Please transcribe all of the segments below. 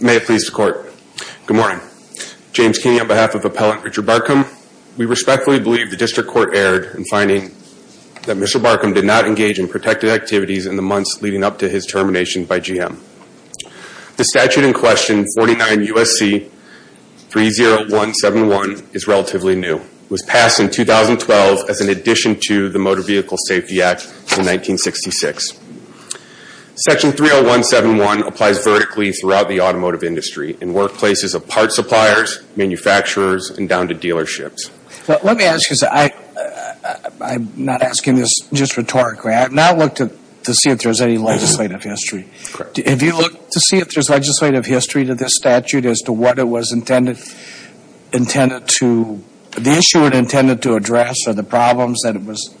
May it please the Court. Good morning. James Kinney on behalf of Appellant Richard Barcomb. We respectfully believe the District Court erred in finding that Mr. Barcomb did not engage in protective activities in the months leading up to his termination by GM. The statute in question, 49 U.S.C. 30171, is relatively new. It was passed in 2012 as an addition to the Motor Vehicle Safety Act in 1966. Section 30171 applies vertically throughout the automotive industry in workplaces of parts suppliers, manufacturers, and down to dealerships. Let me ask you something. I'm not asking this just rhetorically. I have not looked to see if there's any legislative history. Correct. If you look to see if there's legislative history to this statute as to what it was intended to, the issue it intended to address are the problems that it was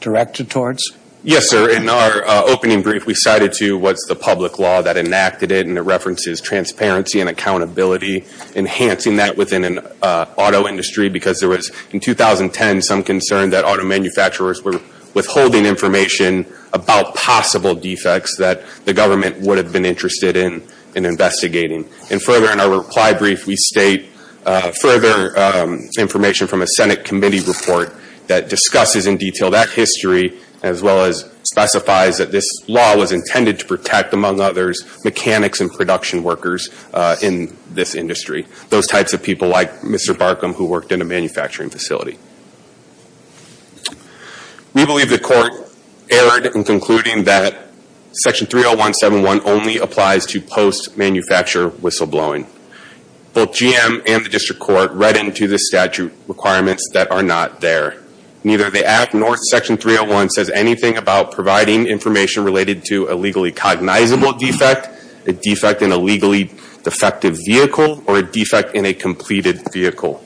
directed towards? Yes, sir. In our opening brief, we cited to what's the public law that enacted it, and it references transparency and accountability, enhancing that within an auto industry because there was, in 2010, some concern that auto the government would have been interested in investigating. And further, in our reply brief, we state further information from a Senate committee report that discusses in detail that history as well as specifies that this law was intended to protect, among others, mechanics and production workers in this industry, those types of people like Mr. Barcomb who Section 30171 only applies to post-manufacturer whistleblowing. Both GM and the district court read into the statute requirements that are not there. Neither the Act nor Section 301 says anything about providing information related to a legally cognizable defect, a defect in a legally defective vehicle, or a defect in a completed vehicle.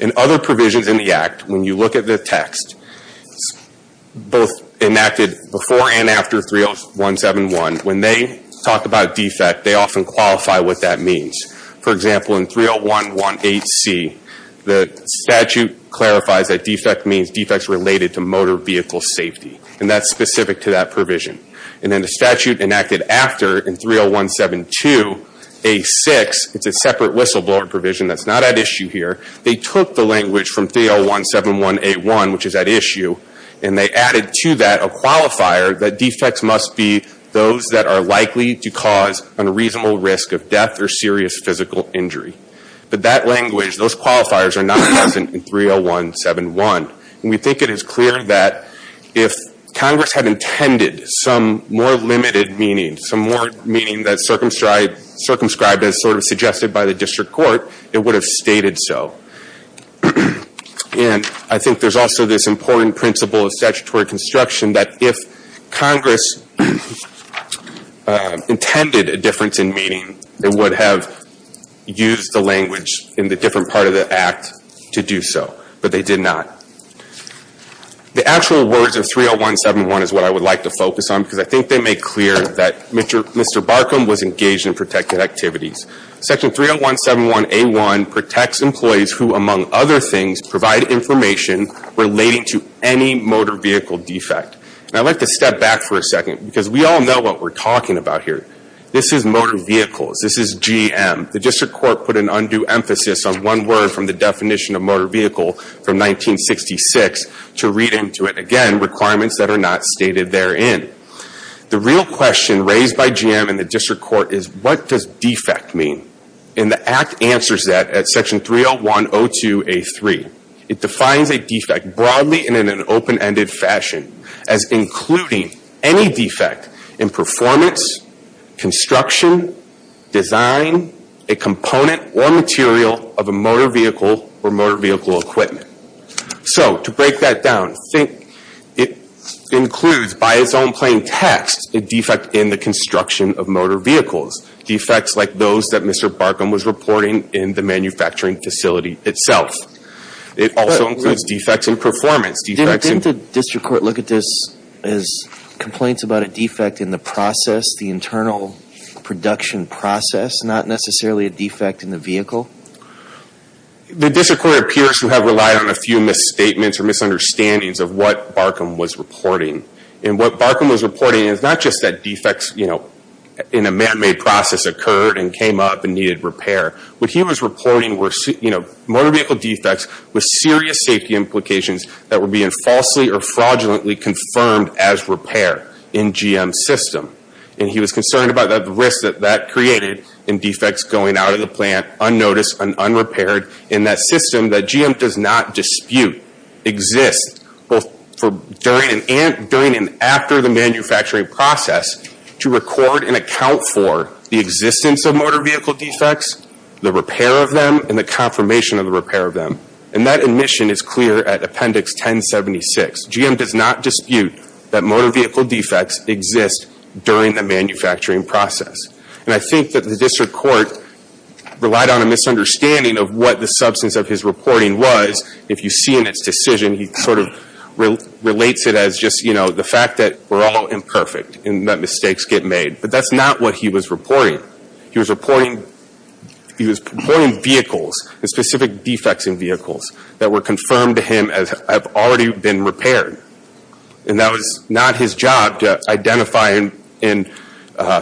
In other words, Section 30171, when they talk about a defect, they often qualify what that means. For example, in 30118C, the statute clarifies that defect means defects related to motor vehicle safety, and that's specific to that provision. And then the statute enacted after in 30172A6, it's a separate whistleblower provision that's not at issue here. They took the language from 3017181, which is at issue, and they added to that a qualifier that defects must be those that are likely to cause an unreasonable risk of death or serious physical injury. But that language, those qualifiers are not present in 30171. And we think it is clear that if Congress had intended some more limited meaning, some more meaning that circumscribed as sort of suggested by the district court, it would have stated so. And I think there's also this important principle of statutory construction that if Congress intended a difference in meaning, they would have used the language in the different part of the act to do so. But they did not. The actual words of 30171 is what I would like to focus on, because I think they make clear that Mr. Barkum was engaged in protected activities. Section 30171A1 protects employees who, among other things, provide information relating to any motor vehicle defect. And I'd like to step back for a second, because we all know what we're talking about here. This is motor vehicles. This is GM. The district court put an undue emphasis on one word from the definition of motor vehicle from 1966 to read into it. Again, requirements that are not stated therein. The real question raised by me, and the act answers that at section 30102A3, it defines a defect broadly and in an open-ended fashion as including any defect in performance, construction, design, a component or material of a motor vehicle or motor vehicle equipment. So to break that down, it includes by its own plain text, a defect in the construction of motor vehicles. Defects like those that Mr. Barkum was reporting in the manufacturing facility itself. It also includes defects in performance. Didn't the district court look at this as complaints about a defect in the process, the internal production process, not necessarily a defect in the vehicle? The district court appears to have relied on a few misstatements or misunderstandings of what Barkum was reporting. What Barkum was reporting is not just that defects in a man-made process occurred and came up and needed repair. What he was reporting were motor vehicle defects with serious safety implications that were being falsely or fraudulently confirmed as repair in GM's system. He was concerned about the risk that that created in defects going out of the plant unnoticed and unrepaired in that system that GM does not dispute exist both during and after the manufacturing process to record and account for the existence of motor vehicle defects, the repair of them, and the confirmation of the repair of them. And that admission is clear at Appendix 1076. GM does not dispute that motor vehicle defects exist during the manufacturing process. And I think that the district court relied on a misunderstanding of what the substance of his reporting was. If you see in its decision, he sort of relates it as just, you know, the fact that we're all imperfect and that mistakes get made. But that's not what he was reporting. He was reporting vehicles, specific defects in vehicles that were confirmed to him as have already been repaired. And that was not his job to identify and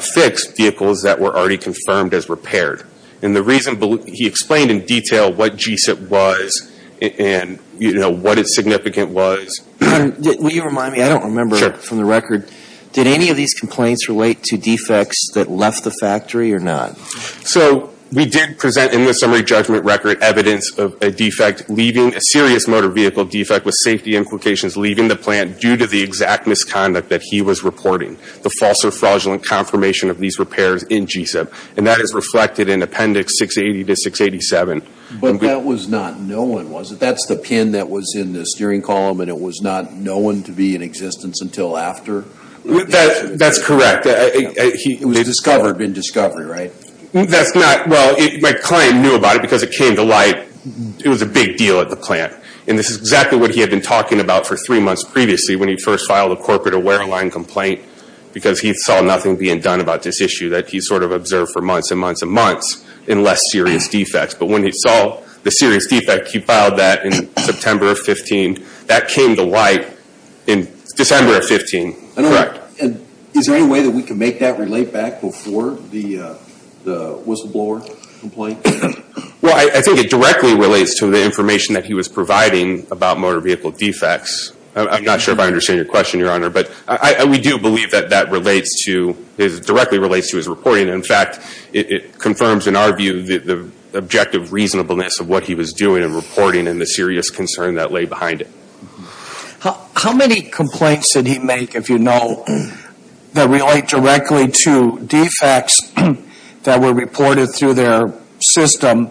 fix vehicles that were already confirmed as repaired. And the reason he explained in detail what GSIP was and, you know, what its significant was. Will you remind me? I don't remember from the record. Did any of these complaints relate to defects that left the factory or not? So we did present in the summary judgment record evidence of a defect leaving a serious motor vehicle defect with safety implications leaving the plant due to the exact misconduct that he was reporting. The false or fraudulent confirmation of these repairs in GSIP. And that is reflected in Appendix 680 to 687. But that was not known, was it? That's the pin that was in the steering column and it was not known to be in existence until after? That's correct. It was discovered in discovery, right? That's not, well, my client knew about it because it came to light it was a big deal at the plant. And this is exactly what he had been talking about for three months previously when he first filed a corporate aware line complaint because he saw nothing being done about this issue that he sort of observed for months and months and months in less serious defects. But when he saw the serious defect, he filed that in September of 15. That came to light in December of 15, correct? Is there any way that we can make that relate back before the whistleblower complaint? Well, I think it directly relates to the information that he was providing about motor vehicle defects. I'm not sure if I understand your question, Your Honor. But we do believe that that relates to, directly relates to his reporting. In fact, it confirms in our view the objective reasonableness of what he was doing and reporting and the serious concern that lay behind it. How many complaints did he make, if you know, that relate directly to defects that were reported through their system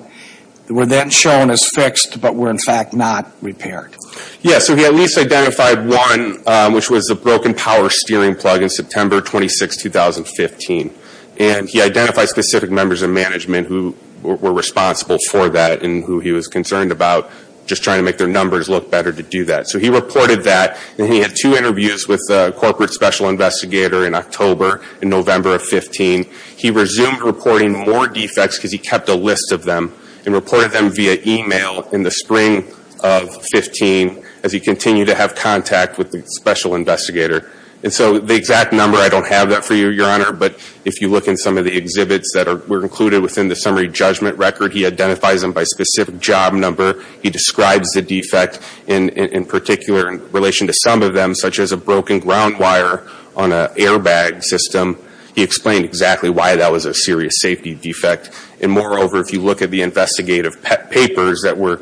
that were then shown as fixed but were in fact not repaired? Yeah, so he at least identified one which was a broken power steering plug in September 26, 2015. And he identified specific members of management who were responsible for that and who he was concerned about just trying to make their numbers look better to do that. So he reported that and he had two interviews with a corporate special investigator in October and November of 15. He resumed reporting more defects because he kept a list of them and the spring of 15 as he continued to have contact with the special investigator. And so the exact number, I don't have that for you, Your Honor. But if you look in some of the exhibits that were included within the summary judgment record, he identifies them by specific job number. He describes the defect in particular in relation to some of them such as a broken ground wire on an airbag system. He explained exactly why that was a serious safety defect. And moreover, if you look at the investigative papers that were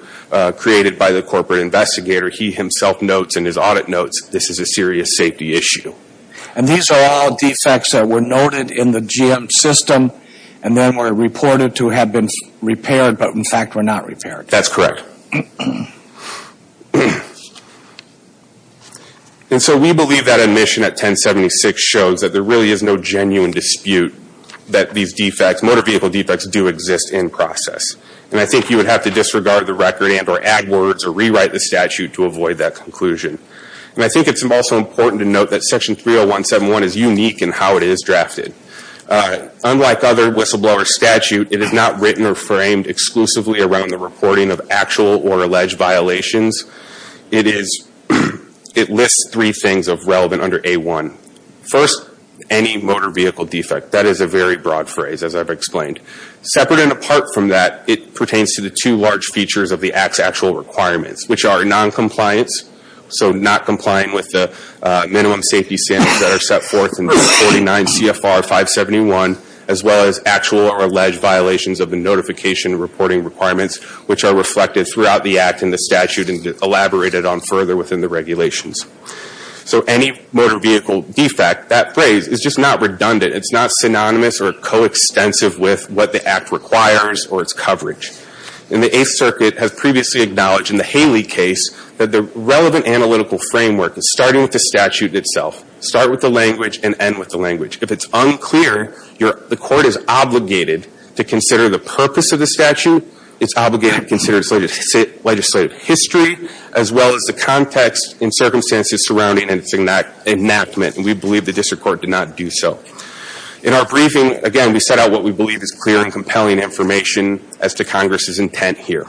created by the corporate investigator, he himself notes in his audit notes, this is a serious safety issue. And these are all defects that were noted in the GM system and then were reported to have been repaired but in fact were not repaired? That's correct. And so we believe that admission at 1076 shows that there really is no genuine dispute that these defects, motor vehicle defects do exist in process. And I think you would have to disregard the record and or add words or rewrite the statute to avoid that conclusion. And I think it's also important to note that Section 30171 is unique in how it is drafted. Unlike other whistleblower statutes, it is not written or framed exclusively around the reporting of actual or alleged violations. It lists three things of relevant under A1. First, any motor vehicle defect. That is a very broad phrase, as I've explained. Separate and apart from that, it pertains to the two large features of the Act's actual requirements, which are noncompliance, so not complying with the minimum safety standards that are set forth in 49 CFR 571, as well as actual or alleged violations of the notification reporting requirements, which are reflected throughout the Act and the statute and elaborated on further within the regulations. So, any motor vehicle defect, that phrase is just not redundant. It's not synonymous or coextensive with what the Act requires or its coverage. And the Eighth Circuit has previously acknowledged in the Haley case that the relevant analytical framework is starting with the statute itself. Start with the language and end with the language. If it's unclear, the court is obligated to consider the purpose of the statute. It's obligated to consider its legislative history, as well as the context and circumstances surrounding its enactment. And we believe the district court did not do so. In our briefing, again, we set out what we believe is clear and compelling information as to Congress's intent here.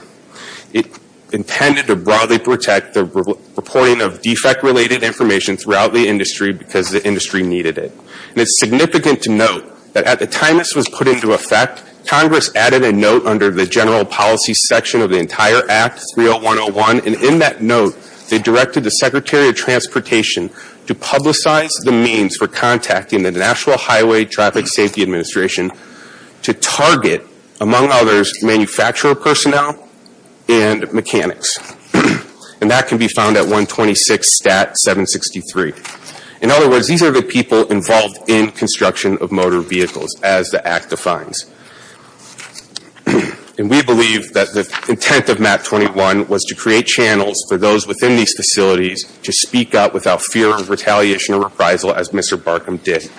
It intended to broadly protect the reporting of defect-related information throughout the industry because the industry needed it. And it's significant to note that at the time this was put into effect, Congress added a note under the General Policy section of the entire Act, 30101. And in that note, they directed the Secretary of Transportation to publicize the means for contacting the National Highway Traffic Safety Administration to target, among others, manufacturer personnel and mechanics. And that can be found at 126 Stat 763. In other words, these are the people involved in construction of motor vehicles. We believe that the intent of MAT 21 was to create channels for those within these facilities to speak up without fear of retaliation or reprisal, as Mr. Barkham did.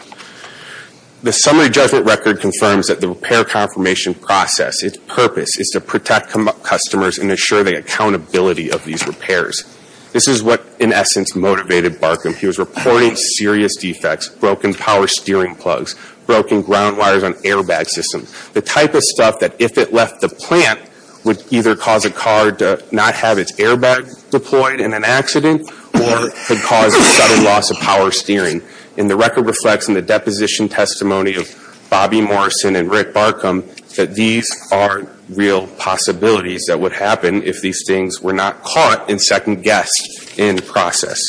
The summary judgment record confirms that the repair confirmation process, its purpose, is to protect customers and ensure the accountability of these repairs. This is what, in essence, motivated Barkham. He was reporting serious defects, broken power steering plugs, broken ground wires on airbag systems. The type of stuff that, if it left the plant, would either cause a car to not have its airbag deployed in an accident or could cause a sudden loss of power steering. And the record reflects in the deposition testimony of Bobby Morrison and Rick Barkham that these are real possibilities that would happen if these things were not caught and second-guessed in the process.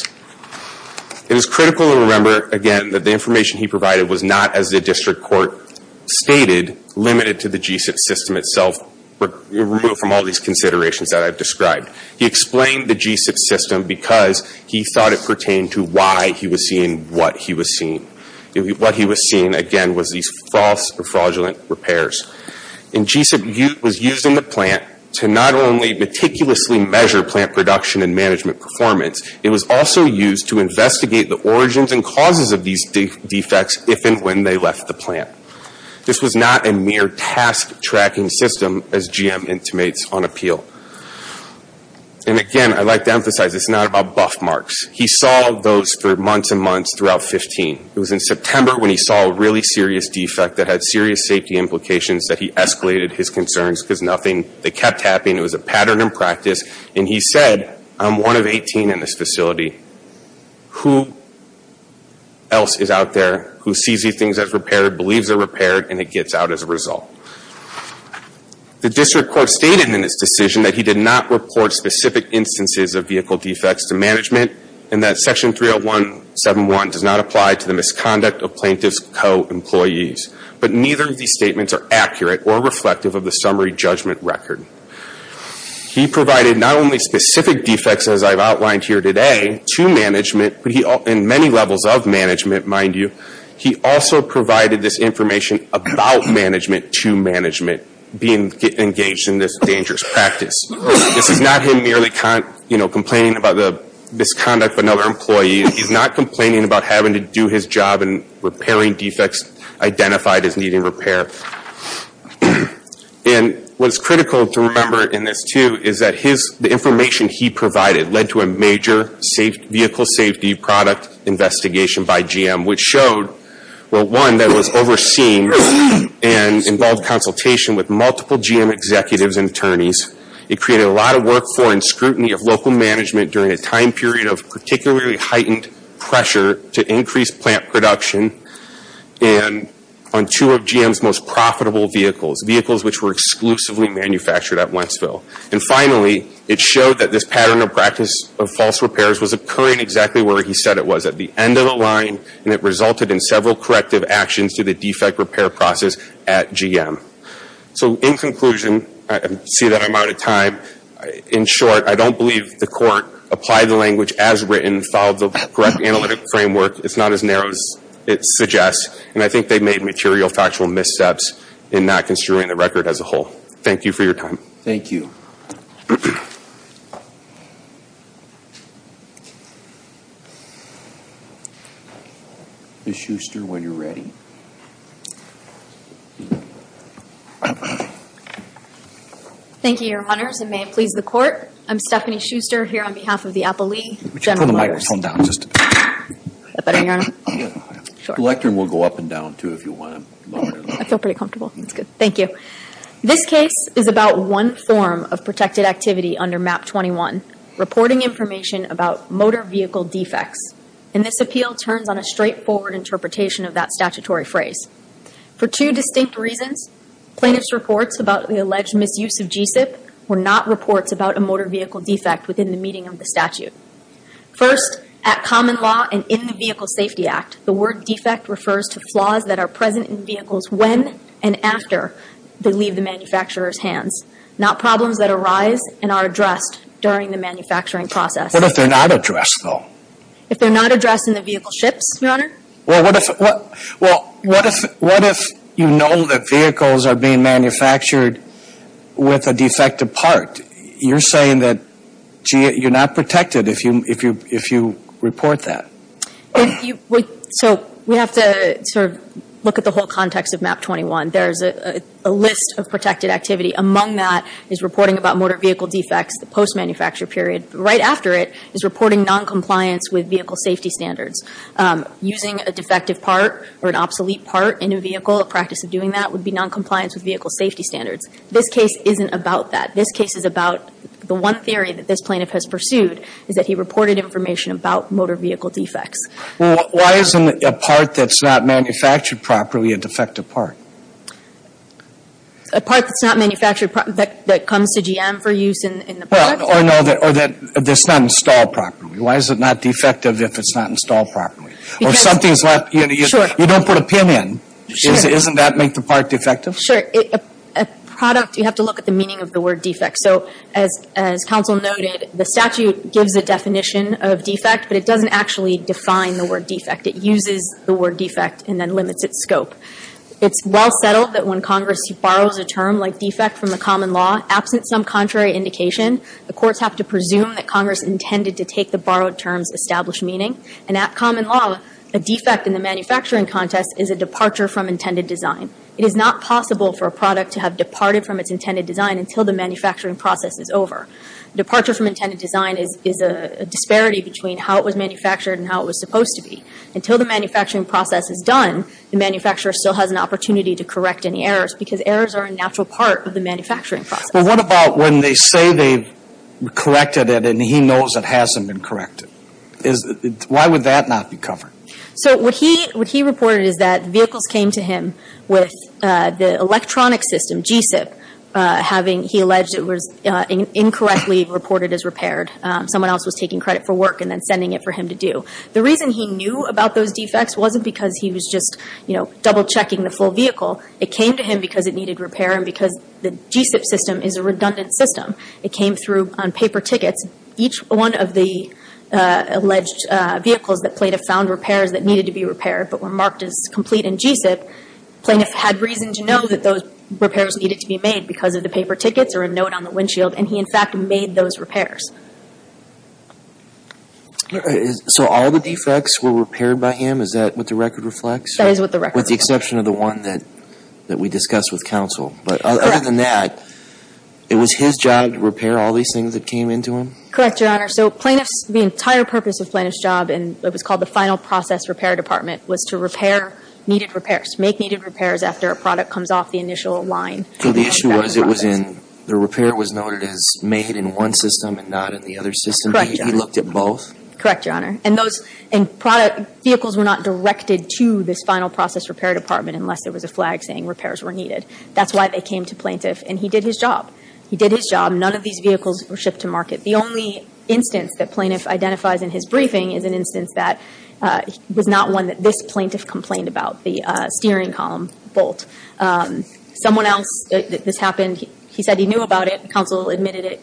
It is critical to remember, again, that the information he provided was not, as the District Court stated, limited to the G-SIP system itself, removed from all these considerations that I've described. He explained the G-SIP system because he thought it pertained to why he was seeing what he was seeing. What he was seeing, again, was these false or fraudulent repairs. And G-SIP was used in the plant to not only meticulously measure plant production and management performance, it was also used to investigate the origins and causes of these defects if and when they left the plant. This was not a mere task-tracking system, as GM intimates on appeal. And again, I'd like to emphasize, this is not about buff marks. He saw those for months and months throughout 15. It was in September when he saw a really serious defect that had serious safety implications that he escalated his concerns because nothing, they kept happening. It was a pattern in practice. And he said, I'm one of 18 in this facility. Who else is out there who sees these things as repaired, believes they're repaired, and it gets out as a result? The district court stated in its decision that he did not report specific instances of vehicle defects to management and that Section 301.7.1 does not apply to the misconduct of plaintiff's co-employees. But neither of these statements are accurate or reflective of the summary judgment record. He provided not only specific defects, as I've outlined here today, to management, but in many levels of management, mind you, he also provided this information about management to management being engaged in this dangerous practice. This is not him merely complaining about the misconduct of another employee. He's not complaining about having to do his job and repairing defects identified as needing repair. And what's critical to remember in this, too, is that the information he provided led to a major vehicle safety product investigation by GM, which showed, well, one, that was overseen and involved consultation with multiple GM executives and attorneys. It created a lot of work for and scrutiny of local management during a time period of particularly heightened pressure to increase plant production on two of GM's most profitable vehicles, vehicles which were exclusively manufactured at Wentzville. And finally, it showed that this pattern of practice of false repairs was occurring exactly where he said it was, at the end of the line, and it resulted in several corrective actions to the defect repair process at GM. So in conclusion, I see that I'm out of time. In short, I don't believe the court applied the language as written, followed the correct analytic framework. It's not as narrow as it suggests, and I think they made material factual missteps in not construing the record as a whole. Thank you for your time. Thank you. Ms. Schuster, when you're ready. Thank you, Your Honors, and may it please the Court, I'm Stephanie Schuster here on behalf of the Appellee General Motors. Would you turn the microphone down just a bit? Is that better, Your Honor? Yeah. Sure. The lectern will go up and down, too, if you want to lower it. I feel pretty comfortable. That's good. Thank you. This case is about one form of protected activity under MAP-21, reporting information about motor vehicle defects, and this appeal turns on a straightforward interpretation of that statutory phrase. For two distinct reasons, plaintiff's reports about the alleged misuse of G-CIP were not reports about a motor vehicle defect within the meeting of the statute. First, at common law and in the Vehicle Safety Act, the word defect refers to flaws that are present in vehicles when and after they leave the manufacturer's hands, not problems that arise and are addressed during the manufacturing process. What if they're not addressed, though? If they're not addressed in the vehicle ships, Your Honor? Well, what if you know that vehicles are being manufactured with a defective part? You're saying that you're not protected if you report that. So we have to sort of look at the whole context of MAP-21. There's a list of protected activity. Among that is reporting about motor vehicle defects, the post-manufacture period. Right after it is reporting noncompliance with vehicle safety standards. Using a defective part or an obsolete part in a vehicle, a practice of doing that would be noncompliance with vehicle safety standards. This case isn't about that. This case is about the one theory that this plaintiff has pursued is that he reported information about motor vehicle defects. Why isn't a part that's not manufactured properly a defective part? A part that's not manufactured properly that comes to GM for use in the product? Or that's not installed properly. Why is it not defective if it's not installed properly? Because... Or something's left... Sure. You don't put a pin in. Sure. Doesn't that make the part defective? Sure. A product, you have to look at the meaning of the word defect. So as counsel noted, the statute gives a definition of defect, but it doesn't actually define the word defect. It uses the word defect and then limits its scope. It's well settled that when Congress borrows a term like defect from the common law, absent some contrary indication, the courts have to presume that Congress intended to take the borrowed terms' established meaning. And at common law, a defect in the manufacturing context is a departure from intended design. It is not possible for a product to have departed from its intended design until the manufacturing process is over. Departure from intended design is a disparity between how it was manufactured and how it was supposed to be. Until the manufacturing process is done, the manufacturer still has an opportunity to correct any errors because errors are a natural part of the manufacturing process. But what about when they say they've corrected it and he knows it hasn't been corrected? Why would that not be covered? So what he reported is that vehicles came to him with the electronic system, G-SIP, having he alleged it was incorrectly reported as repaired. Someone else was taking credit for work and then sending it for him to do. The reason he knew about those defects wasn't because he was just double-checking the full vehicle. It came to him because it needed repair and because the G-SIP system is a redundant system. It came through on paper tickets. Each one of the alleged vehicles that plaintiff found repairs that needed to be repaired but were marked as complete in G-SIP, the plaintiff had reason to know that those repairs needed to be made because of the paper tickets or a note on the windshield and he in fact made those repairs. So all the defects were repaired by him? Is that what the record reflects? That is what the record reflects. With the exception of the one that we discussed with counsel. Correct. But other than that, it was his job to repair all these things that came into him? Correct, Your Honor. So plaintiff's, the entire purpose of plaintiff's job in what was called the final process repair department was to repair needed repairs, make needed repairs after a product comes off the initial line. So the issue was it was in, the repair was noted as made in one system and not in the other system. Correct, Your Honor. He looked at both? Correct, Your Honor. And those, and product, vehicles were not directed to this final process repair department unless there was a flag saying repairs were needed. That's why they came to plaintiff. And he did his job. He did his job. None of these vehicles were shipped to market. The only instance that plaintiff identifies in his briefing is an instance that was not one that this plaintiff complained about, the steering column bolt. Someone else, this happened, he said he knew about it. Counsel admitted it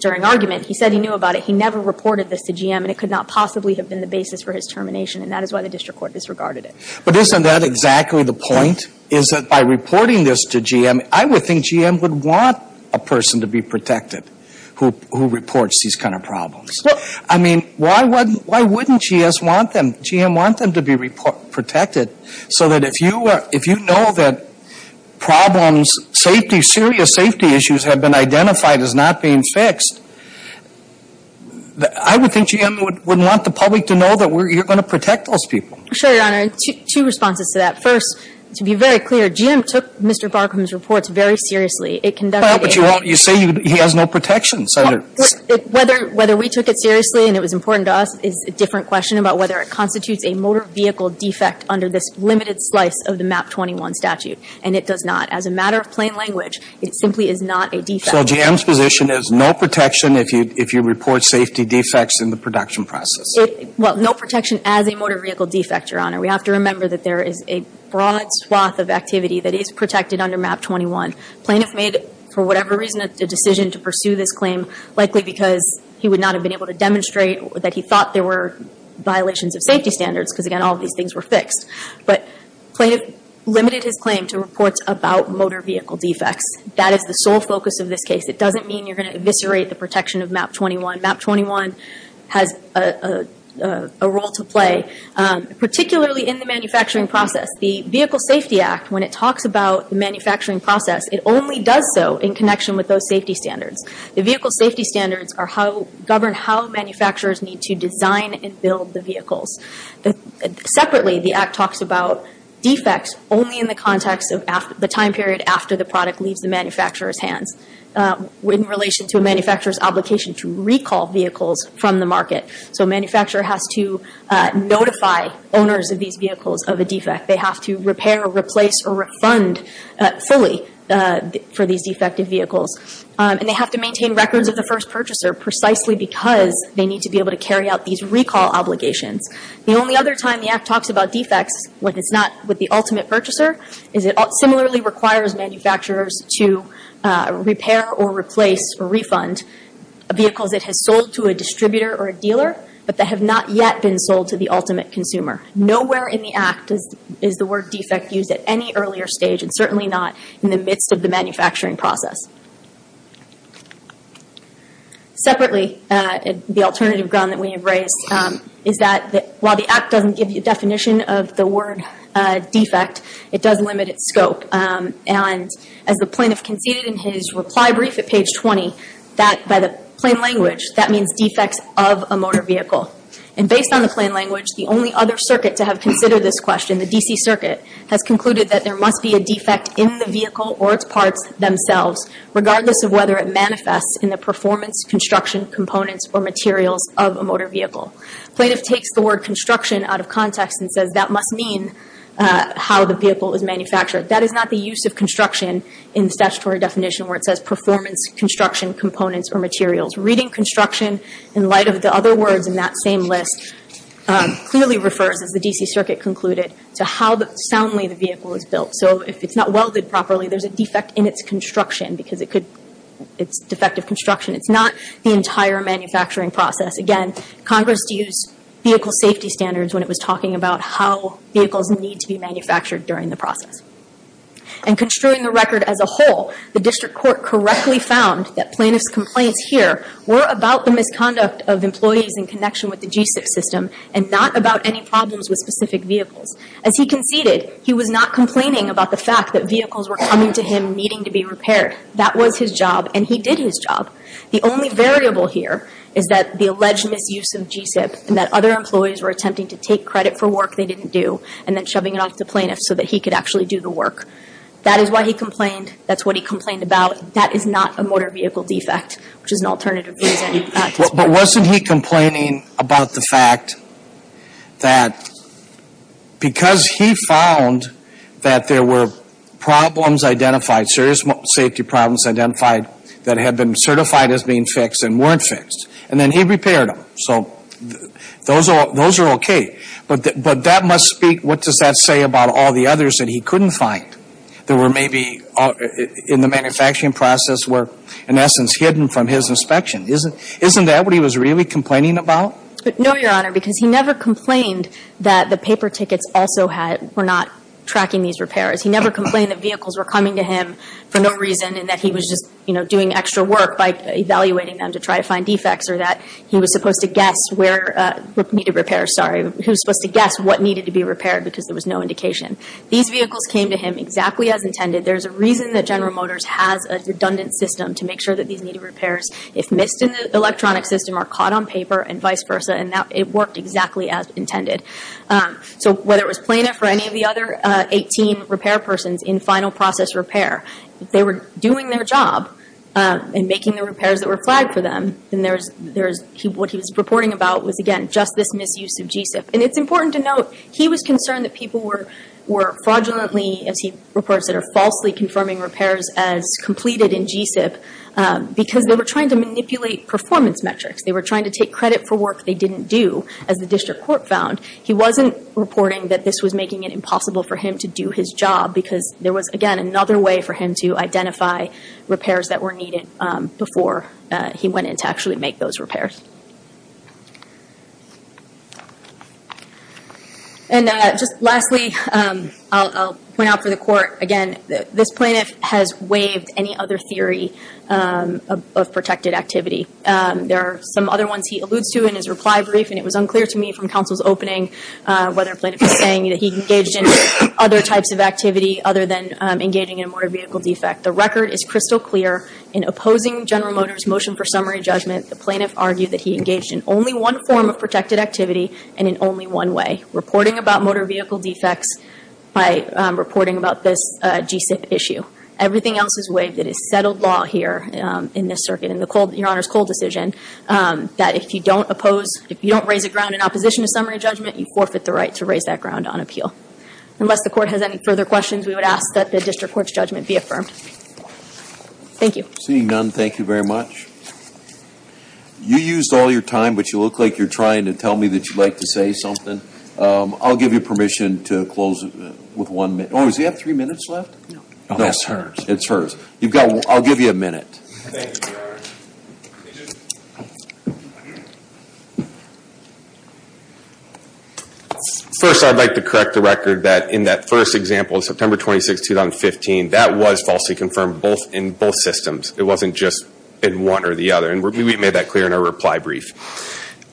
during argument. He said he knew about it. He never reported this to GM and it could not possibly have been the basis for his termination and that is why the district court disregarded it. But isn't that exactly the point is that by reporting this to GM, I would think GM would want a person to be protected who reports these kind of problems. I mean, why wouldn't GS want them, GM want them to be protected so that if you know that problems, safety, serious safety issues have been identified as not being fixed, I would think GM would want the public to know that you're going to protect those people. Sure, Your Honor. Two responses to that. First, to be very clear, GM took Mr. Barkham's reports very seriously. It conducted a- But you say he has no protection, Senator. Whether we took it seriously and it was important to us is a different question about whether it constitutes a motor vehicle defect under this limited slice of the MAP 21 statute. And it does not. As a matter of plain language, it simply is not a defect. So GM's position is no protection if you report safety defects in the production process? Well, no protection as a motor vehicle defect, Your Honor. We have to remember that there is a broad swath of activity that is protected under MAP 21. The plaintiff made, for whatever reason, a decision to pursue this claim likely because he would not have been able to demonstrate that he thought there were violations of safety standards because, again, all of these things were fixed. But the plaintiff limited his claim to reports about motor vehicle defects. That is the sole focus of this case. It doesn't mean you're going to eviscerate the protection of MAP 21. MAP 21 has a role to play, particularly in the manufacturing process. The Vehicle Safety Act, when it talks about the manufacturing process, it only does so in connection with those safety standards. The vehicle safety standards govern how manufacturers need to design and build the vehicles. Separately, the Act talks about defects only in the context of the time period after the product leaves the manufacturer's hands. In relation to a manufacturer's obligation to recall vehicles from the market. So a manufacturer has to notify owners of these vehicles of a defect. They have to repair or replace or refund fully for these defective vehicles. And they have to maintain records of the first purchaser precisely because they need to be able to carry out these recall obligations. The only other time the Act talks about defects when it's not with the ultimate purchaser is it similarly requires manufacturers to repair or replace or refund vehicles it has sold to a distributor or a dealer but that have not yet been sold to the ultimate consumer. Nowhere in the Act is the word defect used at any earlier stage and certainly not in the midst of the manufacturing process. Separately, the alternative ground that we have raised is that while the Act doesn't give you a definition of the word defect, it does limit its scope. And as the plaintiff conceded in his reply brief at page 20, that by the plain language that means defects of a motor vehicle. And based on the plain language, the only other circuit to have considered this question, the DC Circuit, has concluded that there must be a defect in the vehicle or its parts themselves regardless of whether it manifests in the performance, construction, components or materials of a motor vehicle. The plaintiff takes the word construction out of context and says that must mean how the vehicle is manufactured. That is not the use of construction in the statutory definition where it says performance, construction, components or materials. Reading construction in light of the other words in that same list clearly refers, as the DC Circuit concluded, to how soundly the vehicle is built. So if it's not welded properly, there's a defect in its construction because it's defective construction. It's not the entire manufacturing process. Again, Congress used vehicle safety standards when it was talking about how vehicles need to be manufactured during the process. And construing the record as a whole, the District Court correctly found that plaintiff's complaints here were about the misconduct of employees in connection with the G-6 system and not about any problems with specific vehicles. As he conceded, he was not complaining about the fact that vehicles were coming to him needing to be repaired. That was his job and he did his job. The only variable here is that the alleged misuse of G-6 and that other employees were attempting to take credit for work they didn't do and then shoving it off to plaintiffs so that he could actually do the work. That is why he complained. That's what he complained about. That is not a motor vehicle defect, which is an alternative reason. But wasn't he complaining about the fact that because he found that there were problems identified that had been certified as being fixed and weren't fixed, and then he repaired them. So those are okay. But that must speak, what does that say about all the others that he couldn't find that were maybe in the manufacturing process were, in essence, hidden from his inspection? Isn't that what he was really complaining about? No, Your Honor, because he never complained that the paper tickets also were not tracking these repairs. He never complained that vehicles were coming to him for no reason and that he was just doing extra work by evaluating them to try to find defects or that he was supposed to guess where needed repairs, sorry, he was supposed to guess what needed to be repaired because there was no indication. These vehicles came to him exactly as intended. There's a reason that General Motors has a redundant system to make sure that these needed repairs, if missed in the electronic system, are caught on paper and vice versa and that it worked exactly as intended. So whether it was plaintiff or any of the other 18 repair persons in final process repair, if they were doing their job and making the repairs that were flagged for them, then what he was reporting about was, again, just this misuse of G-CIP. And it's important to note, he was concerned that people were fraudulently, as he reports, that are falsely confirming repairs as completed in G-CIP because they were trying to manipulate performance metrics. They were trying to take credit for work they didn't do, as the district court found. He wasn't reporting that this was making it impossible for him to do his job because there was, again, another way for him to identify repairs that were needed before he went in to actually make those repairs. And just lastly, I'll point out for the court, again, this plaintiff has waived any other theory of protected activity. There are some other ones he alludes to in his reply brief, and it was unclear to me from counsel's opening whether a plaintiff was saying that he engaged in other types of activity other than engaging in a motor vehicle defect. The record is crystal clear. In opposing General Motors' motion for summary judgment, the plaintiff argued that he engaged in only one form of protected activity and in only one way, reporting about motor vehicle defects by reporting about this G-CIP issue. Everything else is waived. It is settled law here in this circuit. In your Honor's cold decision, that if you don't oppose, if you don't raise a ground in opposition to summary judgment, you forfeit the right to raise that ground on appeal. Unless the court has any further questions, we would ask that the district court's judgment be affirmed. Thank you. Seeing none, thank you very much. You used all your time, but you look like you're trying to tell me that you'd like to say something. I'll give you permission to close with one minute. Oh, does he have three minutes left? No. Oh, that's hers. It's hers. I'll give you a minute. Thank you, Your Honor. First, I'd like to correct the record that in that first example, September 26, 2015, that was falsely confirmed in both systems. It wasn't just in one or the other, and we made that clear in our reply brief.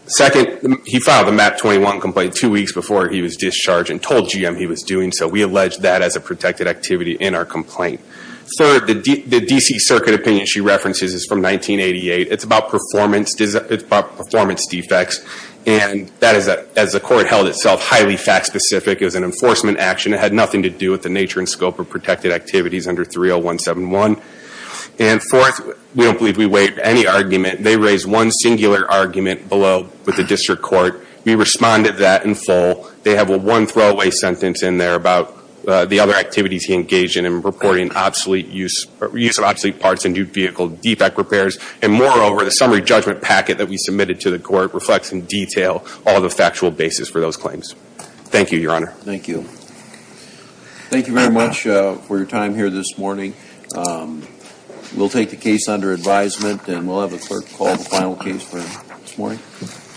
Second, he filed a MAP-21 complaint two weeks before he was discharged and told GM he was doing so. We allege that as a protected activity in our complaint. Third, the D.C. Circuit opinion she references is from 1988. It's about performance defects, and that is, as the court held itself, highly fact-specific as an enforcement action. It had nothing to do with the nature and scope of protected activities under 30171. And fourth, we don't believe we weighed any argument. They raised one singular argument below with the district court. We responded to that in full. They have a one-throwaway sentence in there about the other activities he engaged in and reporting obsolete use of obsolete parts and new vehicle defect repairs. And moreover, the summary judgment packet that we submitted to the court reflects in detail all of the factual basis for those claims. Thank you, Your Honor. Thank you. Thank you very much for your time here this morning. We'll take the case under advisement, and we'll have the clerk call the final case for this morning.